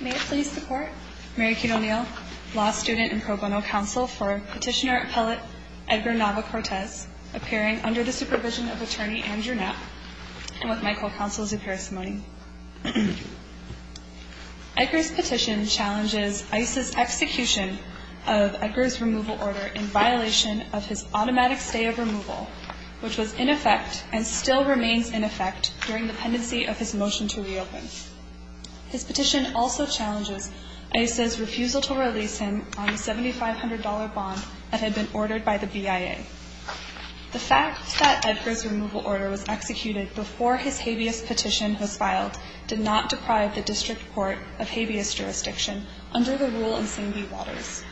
May it please the Court, Mary Keane O'Neill, law student and pro bono counsel for Petitioner Appellate Edgar Nava Cortes, appearing under the supervision of Attorney Andrew Knapp, and with my co-counsel's appearance. Edgar's petition challenges ICE's execution of Edgar's removal order in violation of his automatic stay of removal, which was in effect and still remains in effect during the pendency of his motion to reopen. His petition also challenges ICE's refusal to release him on a $7,500 bond that had been ordered by the BIA. The fact that Edgar's removal order was executed before his habeas petition was filed did not deprive the District Court of habeas jurisdiction under the rule in Singby-Waters.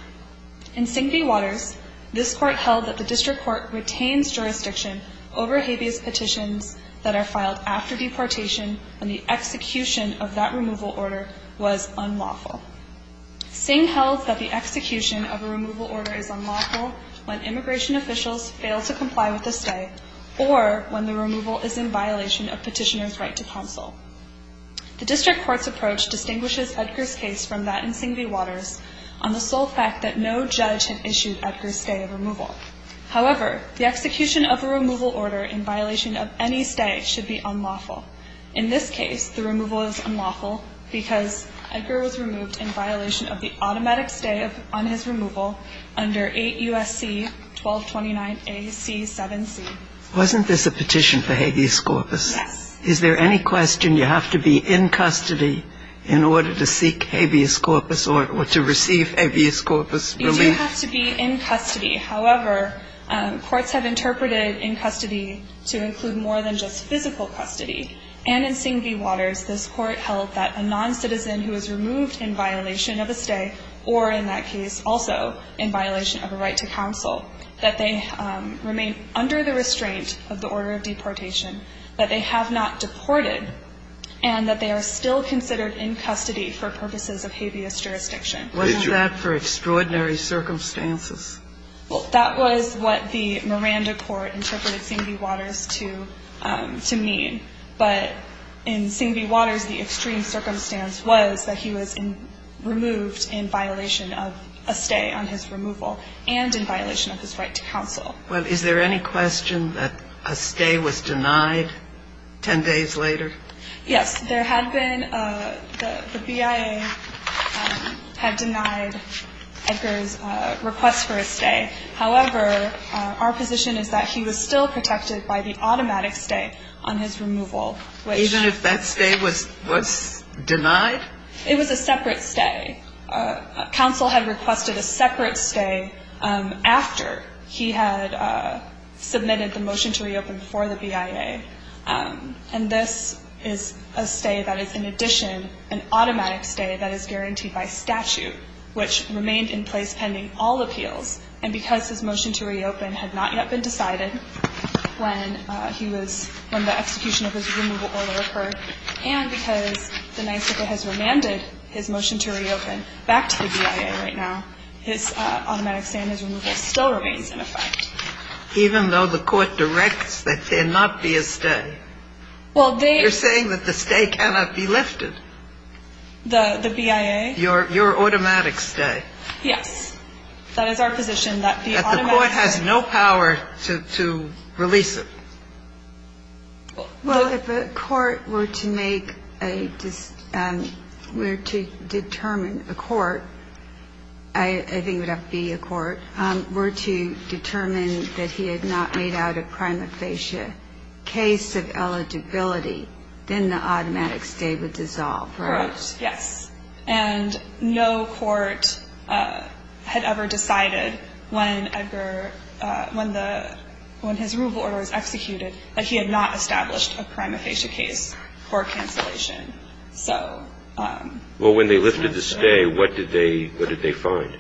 In Singby-Waters, this Court held that the District Court retains jurisdiction over habeas petitions that are filed after deportation when the execution of that removal order was unlawful. Sing held that the execution of a removal order is unlawful when immigration officials fail to comply with a stay or when the removal is in violation of petitioner's right to counsel. The District Court's approach distinguishes Edgar's case from that in Singby-Waters on the sole fact that no judge had issued Edgar's stay of removal. However, the execution of a removal order in violation of any stay should be unlawful. In this case, the removal is unlawful because Edgar was removed in violation of the automatic stay on his removal under 8 U.S.C. 1229 A.C. 7C. Wasn't this a petition for habeas corpus? Yes. Is there any question you have to be in custody in order to seek habeas corpus or to receive habeas corpus relief? We do have to be in custody. However, courts have interpreted in custody to include more than just physical custody. And in Singby-Waters, this Court held that a noncitizen who is removed in violation of a stay or in that case also in violation of a right to counsel, that they remain under the restraint of the order of deportation, that they have not deported, and that they are still considered in custody for purposes of habeas jurisdiction. Was that for extraordinary circumstances? Well, that was what the Miranda Court interpreted Singby-Waters to mean. But in Singby-Waters, the extreme circumstance was that he was removed in violation of a stay on his removal and in violation of his right to counsel. Well, is there any question that a stay was denied 10 days later? Yes. There had been the BIA had denied Edgar's request for a stay. However, our position is that he was still protected by the automatic stay on his removal. Even if that stay was denied? It was a separate stay. Counsel had requested a separate stay after he had submitted the motion to reopen for the BIA. And this is a stay that is, in addition, an automatic stay that is guaranteed by statute, which remained in place pending all appeals. And because his motion to reopen had not yet been decided when he was, when the execution of his removal order occurred, and because the NYSCA has remanded his motion to reopen back to the BIA right now, his automatic stay and his removal still remains in effect. Even though the Court directs that there not be a stay, you're saying that the stay cannot be lifted. The BIA? Your automatic stay. Yes. That is our position, that the automatic stay. But the Court has no power to release it. Well, if the Court were to make a, were to determine, a court, I think it would have to be a court, were to determine that he had not made out a prima facie case of eligibility, then the automatic stay would dissolve, right? Correct. Yes. And no court had ever decided when Edgar, when the, when his removal order was executed, that he had not established a prima facie case for cancellation. So. Well, when they lifted the stay, what did they, what did they find?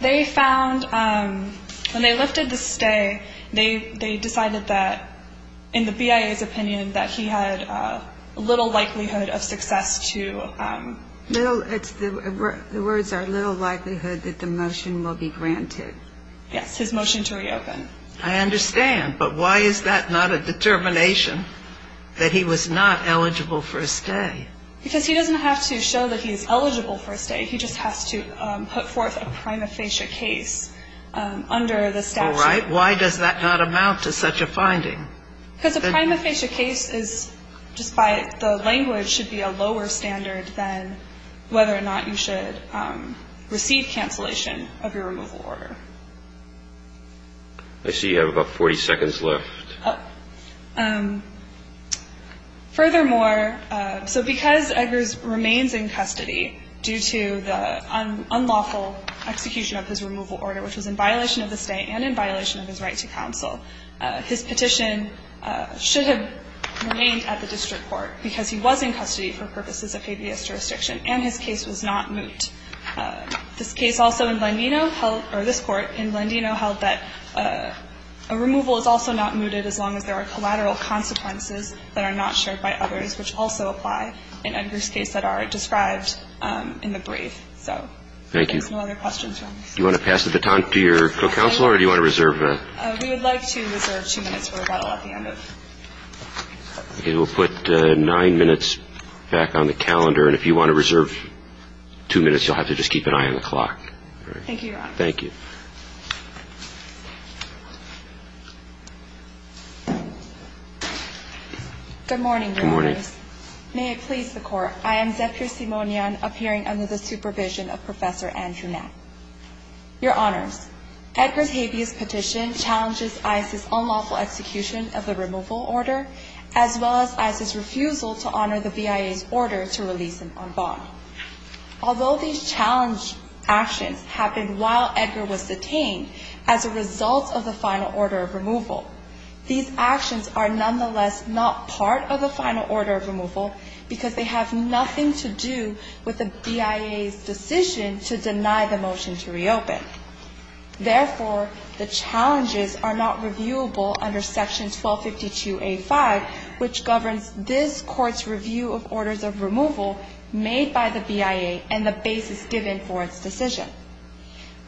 They found, when they lifted the stay, they decided that, in the BIA's opinion, that he had little likelihood of success to. Little, it's, the words are little likelihood that the motion will be granted. Yes. His motion to reopen. I understand. But why is that not a determination that he was not eligible for a stay? Because he doesn't have to show that he's eligible for a stay. He just has to put forth a prima facie case under the statute. All right. Why does that not amount to such a finding? Because a prima facie case is, just by the language, should be a lower standard than whether or not you should receive cancellation of your removal order. I see you have about 40 seconds left. Furthermore, so because Eggers remains in custody due to the unlawful execution of his removal order, which was in violation of the stay and in violation of his right to counsel, his petition should have remained at the district court because he was in custody for purposes of KBS jurisdiction, and his case was not moot. This case also in Blandino held, or this Court in Blandino held that a removal is also not mooted as long as there are collateral consequences that are not shared by others, which also apply in Eggers' case that are described in the brief. Thank you. There's no other questions. Do you want to pass the baton to your co-counselor, or do you want to reserve? We would like to reserve two minutes for rebuttal at the end. We'll put nine minutes back on the calendar, and if you want to reserve two minutes, you'll have to just keep an eye on the clock. Thank you, Your Honor. Thank you. Good morning, Your Honors. Good morning. May it please the Court, I am Zephyr Simonian, appearing under the supervision of Professor Andrew Napp. Your Honors, Eggers' habeas petition challenges ICE's unlawful execution of the removal order, as well as ICE's refusal to honor the BIA's order to release him on bond. Although these challenge actions happened while Eggers was in custody, Eggers was detained as a result of the final order of removal. These actions are nonetheless not part of the final order of removal, because they have nothing to do with the BIA's decision to deny the motion to reopen. Therefore, the challenges are not reviewable under Section 1252A5, which governs this Court's review of orders of removal made by the BIA and the basis given for its decision.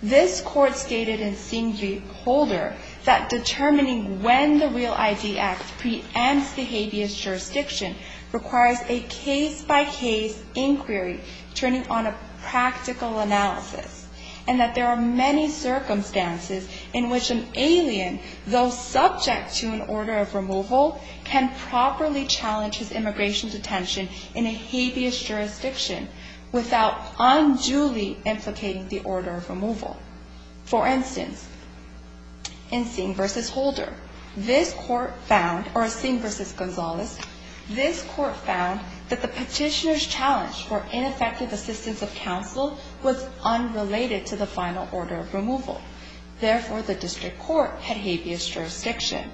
This Court stated in Siem Reholder that determining when the REAL ID Act preempts the habeas jurisdiction requires a case-by-case inquiry turning on a practical analysis, and that there are many circumstances in which an alien, though subject to an order of removal, can properly challenge his immigration detention in a habeas jurisdiction without unduly implicating the order of removal. For instance, in Siem vs. Gonzalez, this Court found that the petitioner's challenge for ineffective assistance of counsel was unrelated to the final order of removal. Therefore, the District Court had habeas jurisdiction.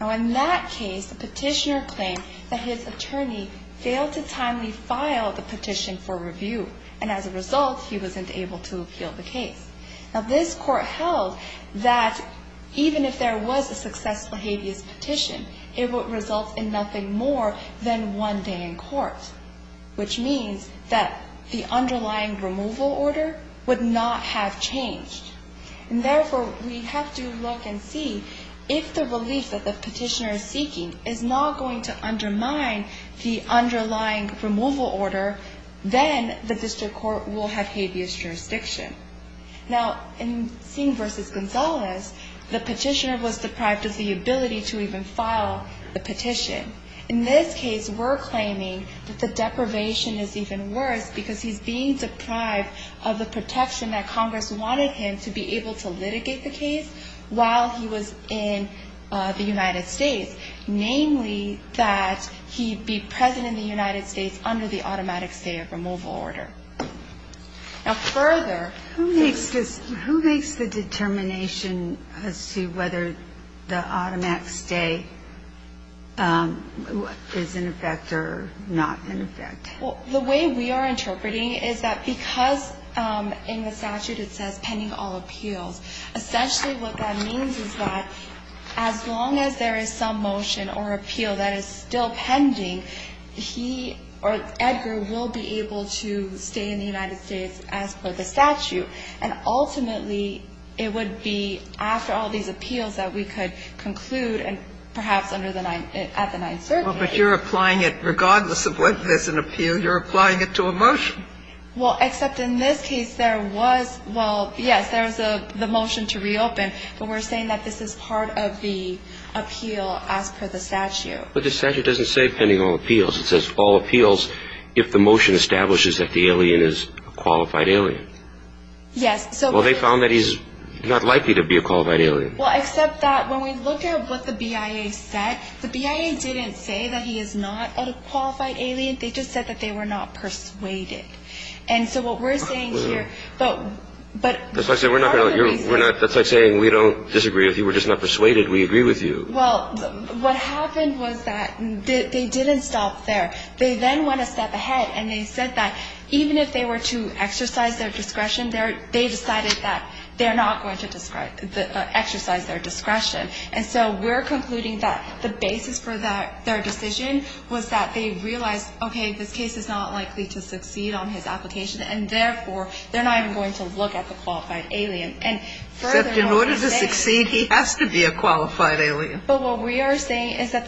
In that case, the petitioner claimed that his attorney failed to timely file the petition for review, and as a result, he wasn't able to appeal the case. This Court held that even if there was a successful habeas petition, it would result in nothing more than one day in court, which means that the underlying removal order would not have changed. And therefore, we have to look and see if the relief that the petitioner is seeking is not going to undermine the underlying removal order, then the District Court will have habeas jurisdiction. Now, in Siem vs. Gonzalez, the petitioner was deprived of the ability to even file the petition. In this case, we're claiming that the deprivation is even worse because he's being deprived of the protection that Congress wanted him to be able to litigate the case while he was in the United States, namely that he be present in the United States under the automatic stay of removal order. Now, further... Who makes the determination as to whether the automatic stay is in effect or not in effect? Well, the way we are interpreting it is that because in the statute it says pending all appeals, essentially what that means is that as long as there is some motion or appeal that is still pending, he or Edgar will be able to stay in the United States as per the statute, and ultimately, it would be after all these appeals that we could conclude and perhaps under the nine at the ninth circuit. Well, but you're applying it regardless of whether there's an appeal. You're applying it to a motion. Well, except in this case, there was, well, yes, there was the motion to reopen, but we're saying that this is part of the appeal as per the statute. But the statute doesn't say pending all appeals. It says all appeals if the motion establishes that the alien is a qualified alien. Yes. Well, they found that he's not likely to be a qualified alien. Well, except that when we looked at what the BIA said, the BIA didn't say that he is not a qualified alien. They just said that they were not persuaded. And so what we're saying here, but part of the reason. That's like saying we don't disagree with you. We're just not persuaded. We agree with you. Well, what happened was that they didn't stop there. They then went a step ahead, and they said that even if they were to exercise their discretion, they decided that they're not going to exercise their discretion. And so we're concluding that the basis for their decision was that they realized, okay, this case is not likely to succeed on his application, and therefore, they're not even going to look at the qualified alien. And furthermore, they said. Except in order to succeed, he has to be a qualified alien. But what we are saying is that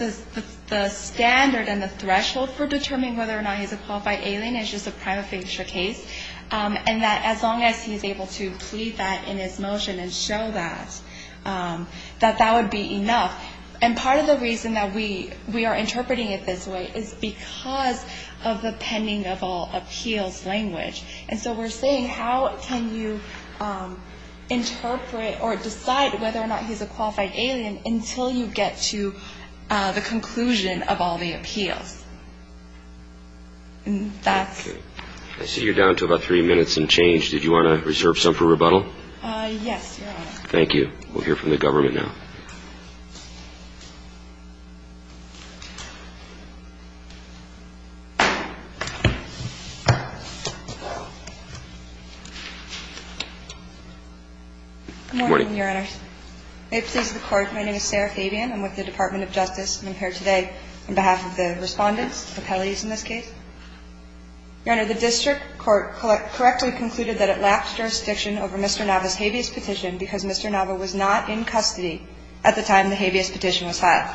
the standard and the threshold for determining whether or not he's a qualified alien is just a prima facie case. And that as long as he's able to plead that in his motion and show that, that that would be enough. And part of the reason that we are interpreting it this way is because of the pending of all appeals language. And so we're saying how can you interpret or decide whether or not he's a qualified alien until you get to the conclusion of all the appeals. And that's. Okay. I see you're down to about three minutes and change. Did you want to reserve some for rebuttal? Yes, Your Honor. Thank you. We'll hear from the government now. Good morning, Your Honor. May it please the Court. My name is Sarah Fabian. I'm with the Department of Justice. I'm here today on behalf of the Respondents, the appellees in this case. Your Honor, the district court correctly concluded that it lapsed jurisdiction over Mr. Nava's habeas petition because Mr. Nava was not in custody at the time the habeas petition was filed.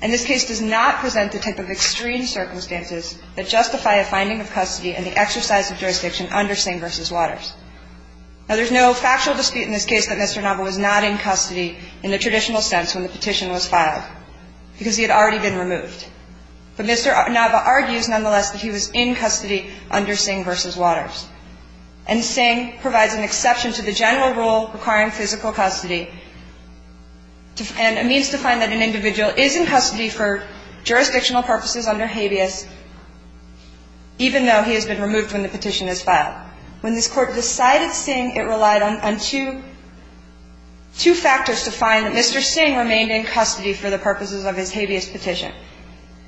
And this case does not present the type of extreme circumstances that justify a finding of custody and the exercise of jurisdiction under Sing v. Waters. Now, there's no factual dispute in this case that Mr. Nava was not in custody in the traditional sense when the petition was filed, because he had already been removed. But Mr. Nava argues, nonetheless, that he was in custody under Sing v. Waters. And Sing provides an exception to the general rule requiring physical custody and a means to find that an individual is in custody for jurisdictional purposes under habeas, even though he has been removed when the petition is filed. When this Court decided Sing, it relied on two factors to find that Mr. Sing remained in custody for the purposes of his habeas petition.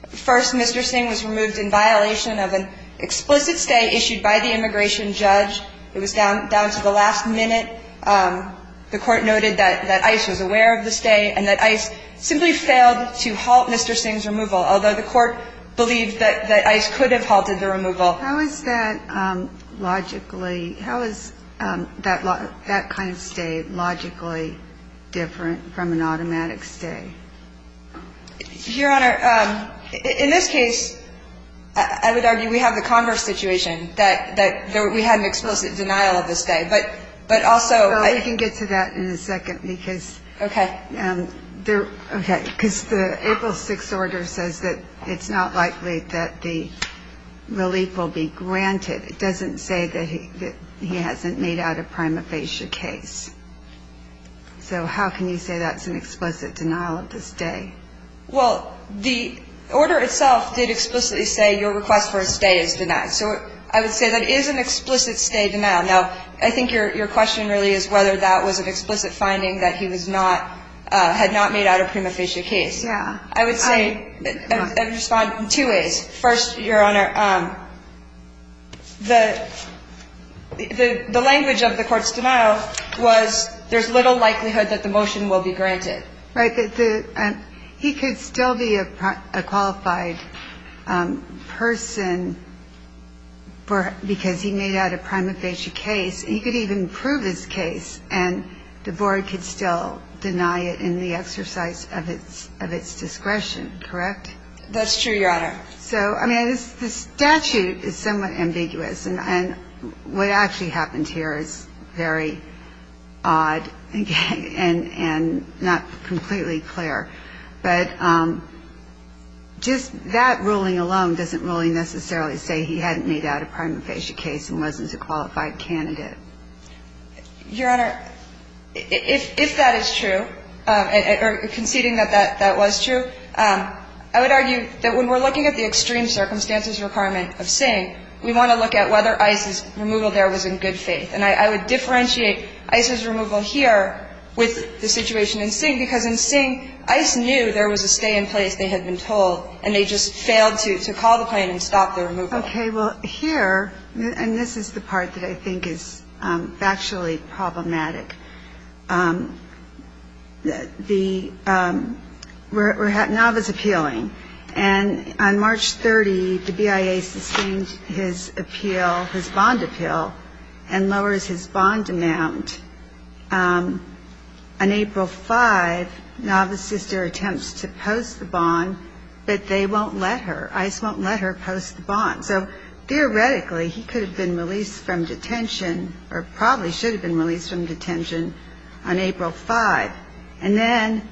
First, Mr. Sing was removed in violation of an explicit stay issued by the immigration judge. It was down to the last minute. The Court noted that ICE was aware of the stay and that ICE simply failed to halt Mr. Sing's removal, although the Court believed that ICE could have halted the removal. How is that logically – how is that kind of stay logically different from an automatic stay? Your Honor, in this case, I would argue we have the converse situation, that we had an explicit denial of the stay. But also – Well, we can get to that in a second, because – Okay. Okay. Because the April 6th order says that it's not likely that the relief will be granted. It doesn't say that he hasn't made out a prima facie case. So how can you say that's an explicit denial of the stay? Well, the order itself did explicitly say your request for a stay is denied. So I would say that is an explicit stay denial. Now, I think your question really is whether that was an explicit finding that he was not – had not made out a prima facie case. Yeah. I would say – I would respond in two ways. First, Your Honor, the language of the court's denial was there's little likelihood that the motion will be granted. Right. But he could still be a qualified person because he made out a prima facie case. He could even prove his case, and the board could still deny it in the exercise of its discretion. Correct? That's true, Your Honor. So, I mean, the statute is somewhat ambiguous. And what actually happened here is very odd and not completely clear. But just that ruling alone doesn't really necessarily say he hadn't made out a prima facie case and wasn't a qualified candidate. Your Honor, if that is true, or conceding that that was true, I would argue that we're looking at the extreme circumstances requirement of Singh. We want to look at whether Ice's removal there was in good faith. And I would differentiate Ice's removal here with the situation in Singh because in Singh, Ice knew there was a stay in place, they had been told, and they just failed to call the plane and stop the removal. Okay. Well, here – and this is the part that I think is factually problematic. The – we're at Nova's appealing. And on March 30, the BIA sustained his appeal, his bond appeal, and lowers his bond amount. On April 5, Nova's sister attempts to post the bond, but they won't let her. Ice won't let her post the bond. So, theoretically, he could have been released from detention, or probably should have been released from detention on April 5. And then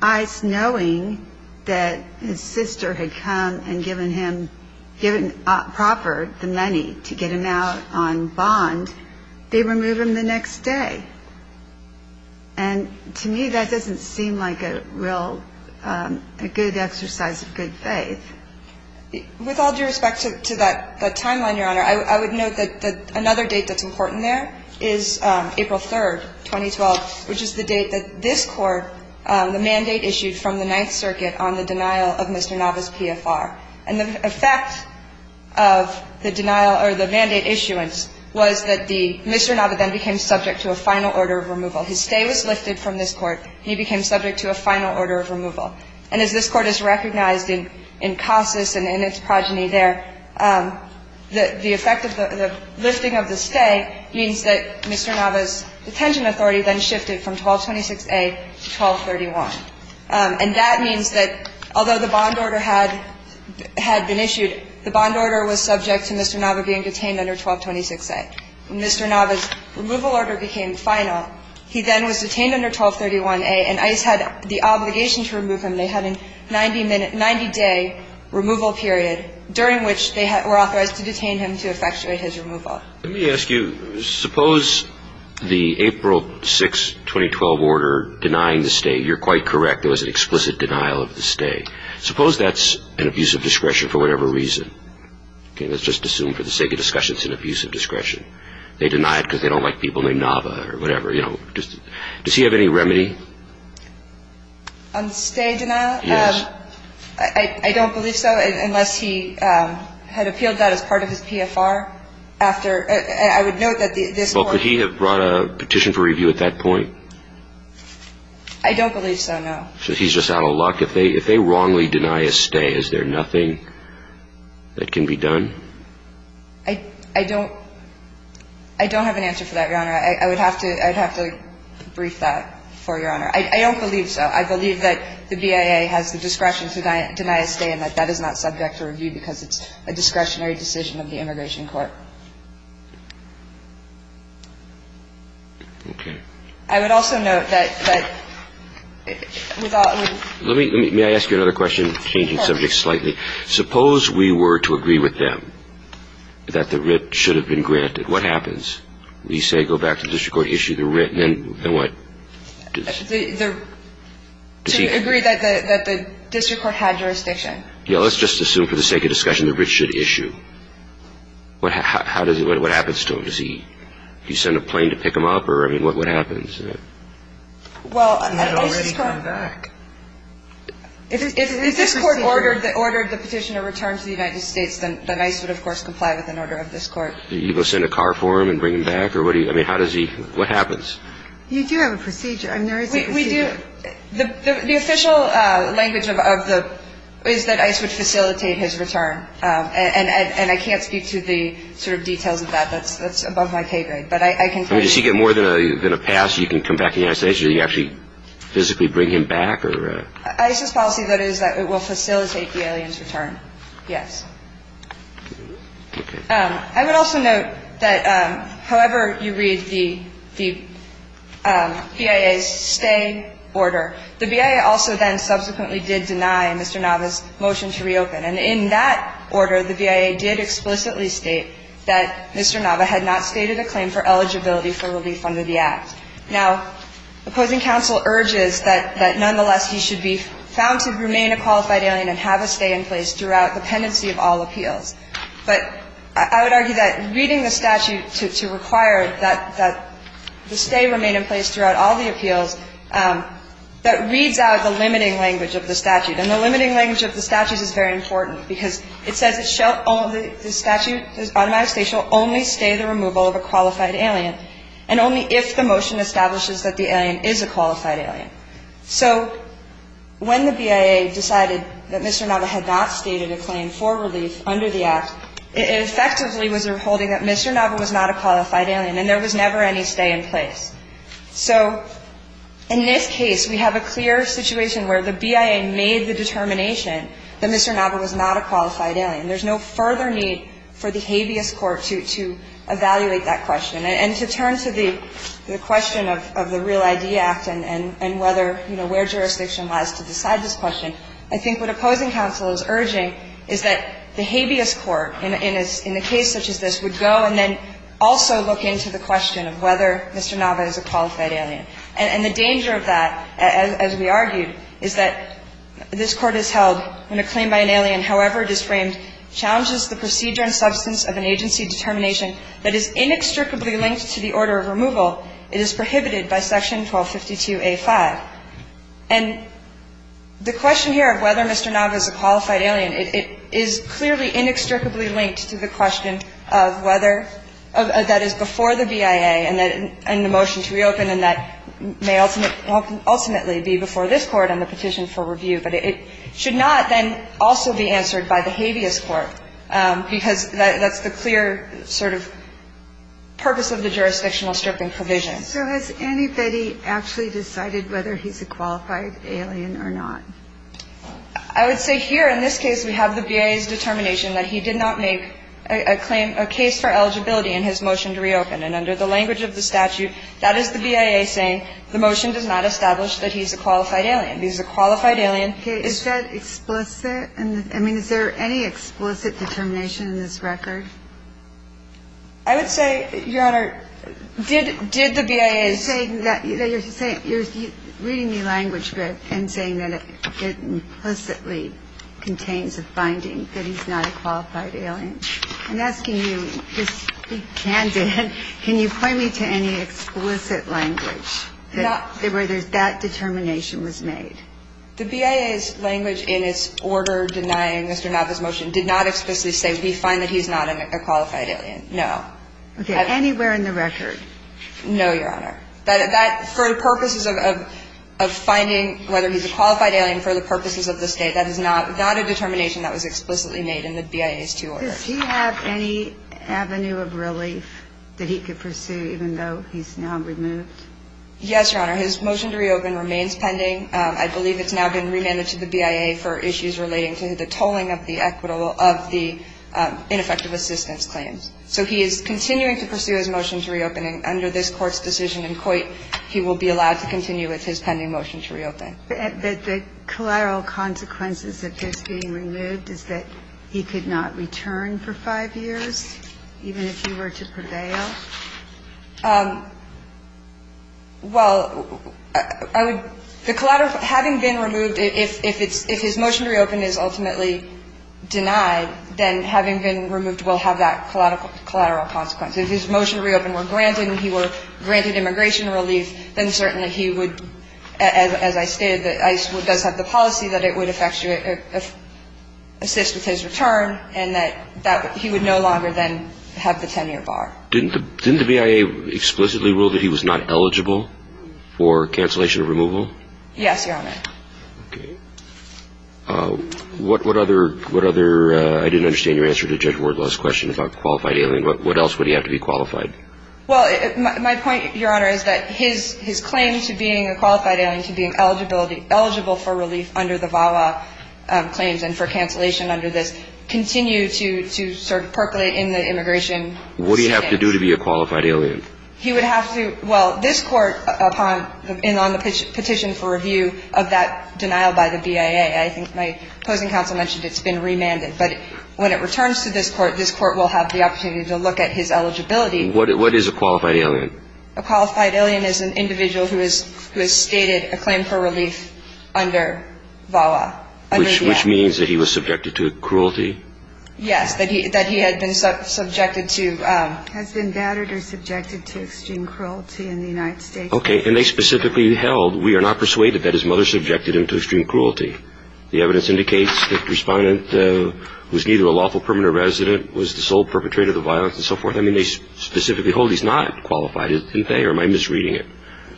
Ice, knowing that his sister had come and given him – given proper money to get him out on bond, they remove him the next day. And to me, that doesn't seem like a real – a good exercise of good faith. With all due respect to that timeline, Your Honor, I would note that another date that's important there is April 3, 2012, which is the date that this Court – the mandate issued from the Ninth Circuit on the denial of Mr. Nova's PFR. And the effect of the denial – or the mandate issuance was that the – Mr. Nova then became subject to a final order of removal. His stay was lifted from this Court, and he became subject to a final order of removal. And as this Court has recognized in Casas and in its progeny there, the effect of the – the lifting of the stay means that Mr. Nova's detention authority then shifted from 1226a to 1231. And that means that although the bond order had – had been issued, the bond order was subject to Mr. Nova being detained under 1226a. When Mr. Nova's removal order became final, he then was detained under 1231a, and Ice had the obligation to remove him. They had a 90-minute – 90-day removal period during which they were authorized to detain him to effectuate his removal. Let me ask you, suppose the April 6, 2012 order denying the stay. You're quite correct. There was an explicit denial of the stay. Suppose that's an abuse of discretion for whatever reason. Okay. Let's just assume for the sake of discussion it's an abuse of discretion. They deny it because they don't like people named Nova or whatever. You know, just – does he have any remedy? On stay denial? Yes. I don't believe so unless he had appealed that as part of his PFR. After – I would note that this – Well, could he have brought a petition for review at that point? I don't believe so, no. So he's just out of luck. If they wrongly deny a stay, is there nothing that can be done? I don't – I don't have an answer for that, Your Honor. I would have to – I'd have to brief that for Your Honor. I don't believe so. I believe that the BIA has the discretion to deny a stay and that that is not subject for review because it's a discretionary decision of the immigration court. Okay. I would also note that without – Let me – may I ask you another question, changing subjects slightly? Of course. Suppose we were to agree with them that the writ should have been granted. What happens? We say go back to the district court, issue the writ, and then what? To agree that the district court had jurisdiction. Yeah. Let's just assume for the sake of discussion the writ should issue. How does – what happens to him? Does he – do you send a plane to pick him up or, I mean, what happens? Well, I – He had already gone back. If this court ordered the petitioner return to the United States, then ICE would, of course, comply with an order of this court. Do you go send a car for him and bring him back or what do you – I mean, how does he – what happens? You do have a procedure. I mean, there is a procedure. We do – the official language of the – is that ICE would facilitate his return. And I can't speak to the sort of details of that. That's above my pay grade. But I can tell you – I mean, does he get more than a pass so you can come back to the United States? Do you actually physically bring him back or – ICE's policy, that is, that it will facilitate the alien's return, yes. Okay. I would also note that however you read the BIA's stay order, the BIA also then subsequently did deny Mr. Nava's motion to reopen. And in that order, the BIA did explicitly state that Mr. Nava had not stated a claim for eligibility for relief under the Act. Now, opposing counsel urges that nonetheless he should be found to remain a qualified alien and have a stay in place throughout the pendency of all appeals. But I would argue that reading the statute to require that the stay remain in place throughout all the appeals, that reads out the limiting language of the statute. And the limiting language of the statute is very important because it says it shall – the statute, the automated stay shall only stay the removal of a qualified alien and only if the motion establishes that the alien is a qualified alien. So when the BIA decided that Mr. Nava had not stated a claim for relief under the Act, it effectively was holding that Mr. Nava was not a qualified alien and there was never any stay in place. So in this case, we have a clear situation where the BIA made the determination that Mr. Nava was not a qualified alien. There's no further need for the habeas court to evaluate that question. And to turn to the question of the Real ID Act and whether, you know, where jurisdiction lies to decide this question, I think what opposing counsel is urging is that the court, in a case such as this, would go and then also look into the question of whether Mr. Nava is a qualified alien. And the danger of that, as we argued, is that this Court has held when a claim by an alien, however it is framed, challenges the procedure and substance of an agency determination that is inextricably linked to the order of removal, it is prohibited by Section 1252a5. And the question here of whether Mr. Nava is a qualified alien, it is clearly inextricably linked to the question of whether that is before the BIA and the motion to reopen and that may ultimately be before this Court on the petition for review. But it should not then also be answered by the habeas court because that's the clear sort of purpose of the jurisdictional stripping provision. So has anybody actually decided whether he's a qualified alien or not? I would say here in this case we have the BIA's determination that he did not make a claim, a case for eligibility in his motion to reopen. And under the language of the statute, that is the BIA saying the motion does not establish that he's a qualified alien. He's a qualified alien. Okay. Is that explicit? I mean, is there any explicit determination in this record? I would say, Your Honor, did the BIA say that? You're reading the language script and saying that it implicitly contains a finding that he's not a qualified alien. I'm asking you, just be candid, can you point me to any explicit language where that determination was made? The BIA's language in its order denying Mr. Nava's motion did not explicitly say we find that he's not a qualified alien, no. Okay. Anywhere in the record? No, Your Honor. That, for the purposes of finding whether he's a qualified alien for the purposes of the state, that is not a determination that was explicitly made in the BIA's two orders. Does he have any avenue of relief that he could pursue even though he's now removed? Yes, Your Honor. His motion to reopen remains pending. I believe it's now been remanded to the BIA for issues relating to the tolling of the equitable of the ineffective assistance claims. So he is continuing to pursue his motion to reopen. And under this Court's decision in Coit, he will be allowed to continue with his pending motion to reopen. But the collateral consequences of his being removed is that he could not return for five years, even if he were to prevail? Well, I would the collateral, having been removed, if his motion to reopen is ultimately denied, then having been removed will have that collateral consequence. If his motion to reopen were granted and he were granted immigration relief, then certainly he would, as I stated, ICE does have the policy that it would assist with his return and that he would no longer then have the 10-year bar. Didn't the BIA explicitly rule that he was not eligible for cancellation of removal? Yes, Your Honor. Okay. What other – I didn't understand your answer to Judge Wardlaw's question about qualified alien. What else would he have to be qualified? Well, my point, Your Honor, is that his claim to being a qualified alien, to being eligible for relief under the VAWA claims and for cancellation under this, continue to sort of percolate in the immigration scheme. What would he have to do to be a qualified alien? He would have to – well, this Court, upon and on the petition for review of that BIA, I think my opposing counsel mentioned it's been remanded. But when it returns to this Court, this Court will have the opportunity to look at his eligibility. What is a qualified alien? A qualified alien is an individual who has stated a claim for relief under VAWA, under the VAWA. Which means that he was subjected to cruelty? Yes, that he had been subjected to – Has been battered or subjected to extreme cruelty in the United States. Okay. And they specifically held, we are not persuaded that his mother subjected him to extreme cruelty. The evidence indicates that the Respondent was neither a lawful permanent resident, was the sole perpetrator of the violence and so forth. I mean, they specifically hold he's not qualified, isn't they? Or am I misreading it?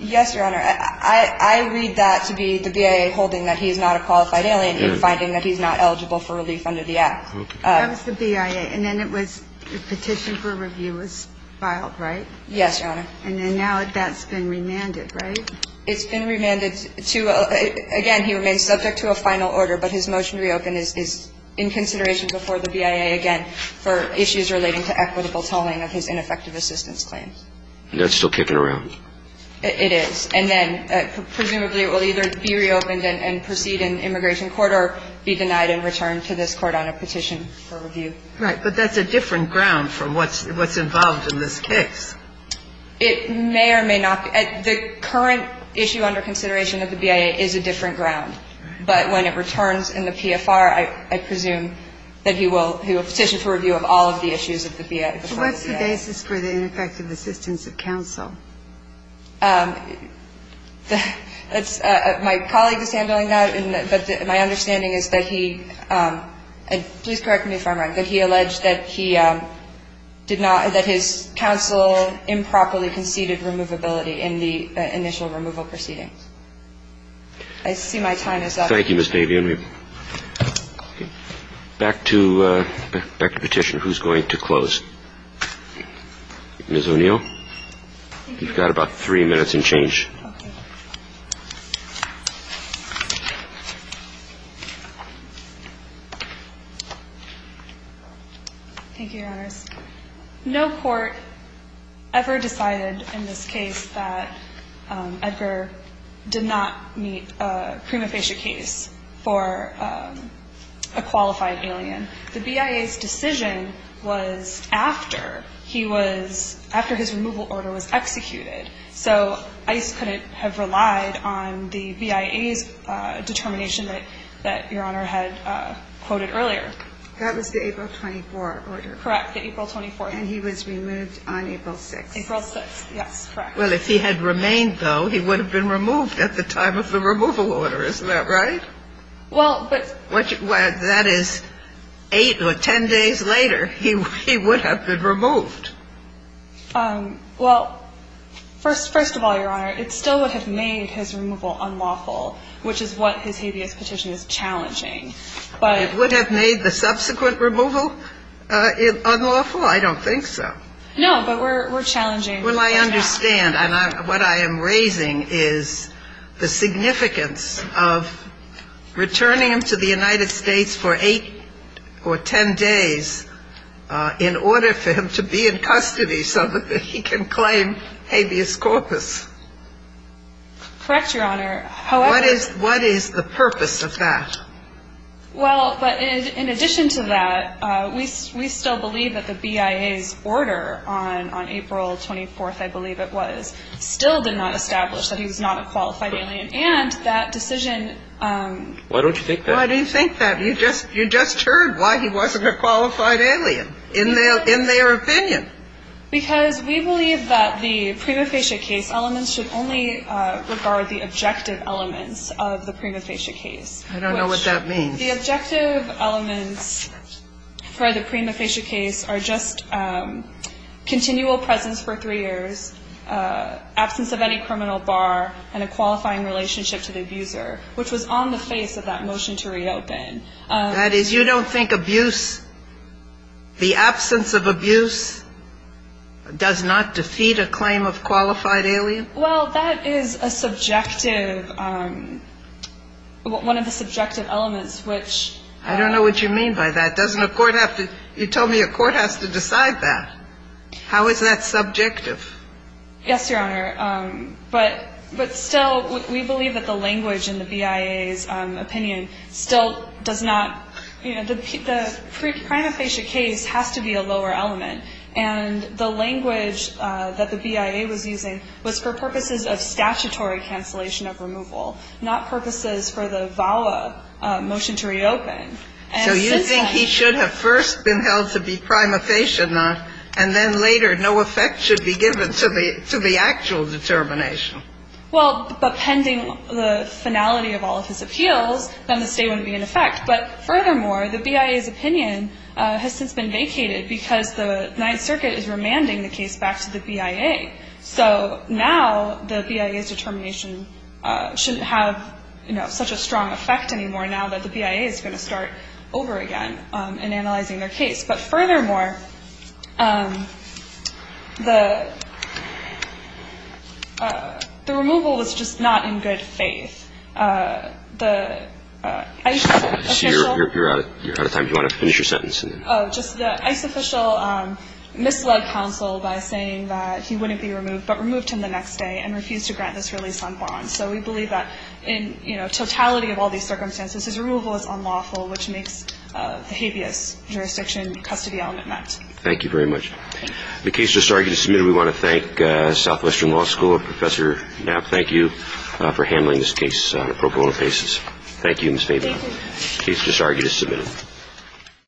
Yes, Your Honor. I read that to be the BIA holding that he's not a qualified alien and finding that he's not eligible for relief under the Act. Okay. That was the BIA. And then it was the petition for review was filed, right? Yes, Your Honor. And then now that's been remanded, right? It's been remanded to, again, he remains subject to a final order, but his motion to reopen is in consideration before the BIA again for issues relating to equitable tolling of his ineffective assistance claim. That's still kicking around? It is. And then presumably it will either be reopened and proceed in immigration court or be denied and returned to this Court on a petition for review. Right. But that's a different ground from what's involved in this case. It may or may not be. The current issue under consideration of the BIA is a different ground. But when it returns in the PFR, I presume that he will petition for review of all of the issues of the BIA. What's the basis for the ineffective assistance of counsel? My colleague is handling that. But my understanding is that he, and please correct me if I'm wrong, that he alleged that he did not, that his counsel improperly conceded removability in the initial removal proceedings. I see my time is up. Thank you, Ms. Davian. Back to petition. Who's going to close? Ms. O'Neill, you've got about three minutes and change. Okay. Thank you, Your Honors. No court ever decided in this case that Edgar did not meet a prima facie case for a qualified alien. The BIA's decision was after he was, after his removal order was executed. So ICE couldn't have relied on the BIA's determination that Your Honor had quoted earlier. That was the April 24 order. Correct, the April 24. And he was removed on April 6th. April 6th, yes. Correct. Well, if he had remained, though, he would have been removed at the time of the removal order. Isn't that right? Well, but that is eight or ten days later. He would have been removed. Well, first of all, Your Honor, it still would have made his removal unlawful, which is what his habeas petition is challenging. It would have made the subsequent removal unlawful? I don't think so. No, but we're challenging. Well, I understand. And what I am raising is the significance of returning him to the United States. Correct, Your Honor. What is the purpose of that? Well, but in addition to that, we still believe that the BIA's order on April 24th, I believe it was, still did not establish that he was not a qualified alien. And that decision. Why don't you think that? He was not a qualified alien. He was not a qualified alien. He was not a qualified alien. In their opinion. Because we believe that the prima facie case elements should only regard the objective elements of the prima facie case. I don't know what that means. The objective elements for the prima facie case are just continual presence for three years, absence of any criminal bar, and a qualifying relationship to the abuser, which was on the face of that motion to reopen. That is, you don't think abuse, the absence of abuse does not defeat a claim of qualified alien? Well, that is a subjective, one of the subjective elements, which. I don't know what you mean by that. Doesn't a court have to, you told me a court has to decide that. How is that subjective? Yes, Your Honor. But still, we believe that the language in the BIA's opinion still does not you know, the prima facie case has to be a lower element. And the language that the BIA was using was for purposes of statutory cancellation of removal, not purposes for the VAWA motion to reopen. And since then. So you think he should have first been held to be prima facie enough, and then later no effect should be given to the actual determination? Well, but pending the finality of all of his appeals, then the state wouldn't be in effect. But furthermore, the BIA's opinion has since been vacated because the Ninth Circuit is remanding the case back to the BIA. So now the BIA's determination shouldn't have such a strong effect anymore now that the BIA is going to start over again in analyzing their case. But furthermore, the removal was just not in good faith. The ICE official. You're out of time. Do you want to finish your sentence? Oh, just the ICE official misled counsel by saying that he wouldn't be removed, but removed him the next day and refused to grant this release on bond. So we believe that in totality of all these circumstances, his removal is unlawful, which makes the habeas jurisdiction custody element met. Thank you very much. The case was argued and submitted. We want to thank Southwestern Law School. Professor Knapp, thank you for handling this case on a pro bono basis. Thank you, Ms. Fabian. The case was argued and submitted.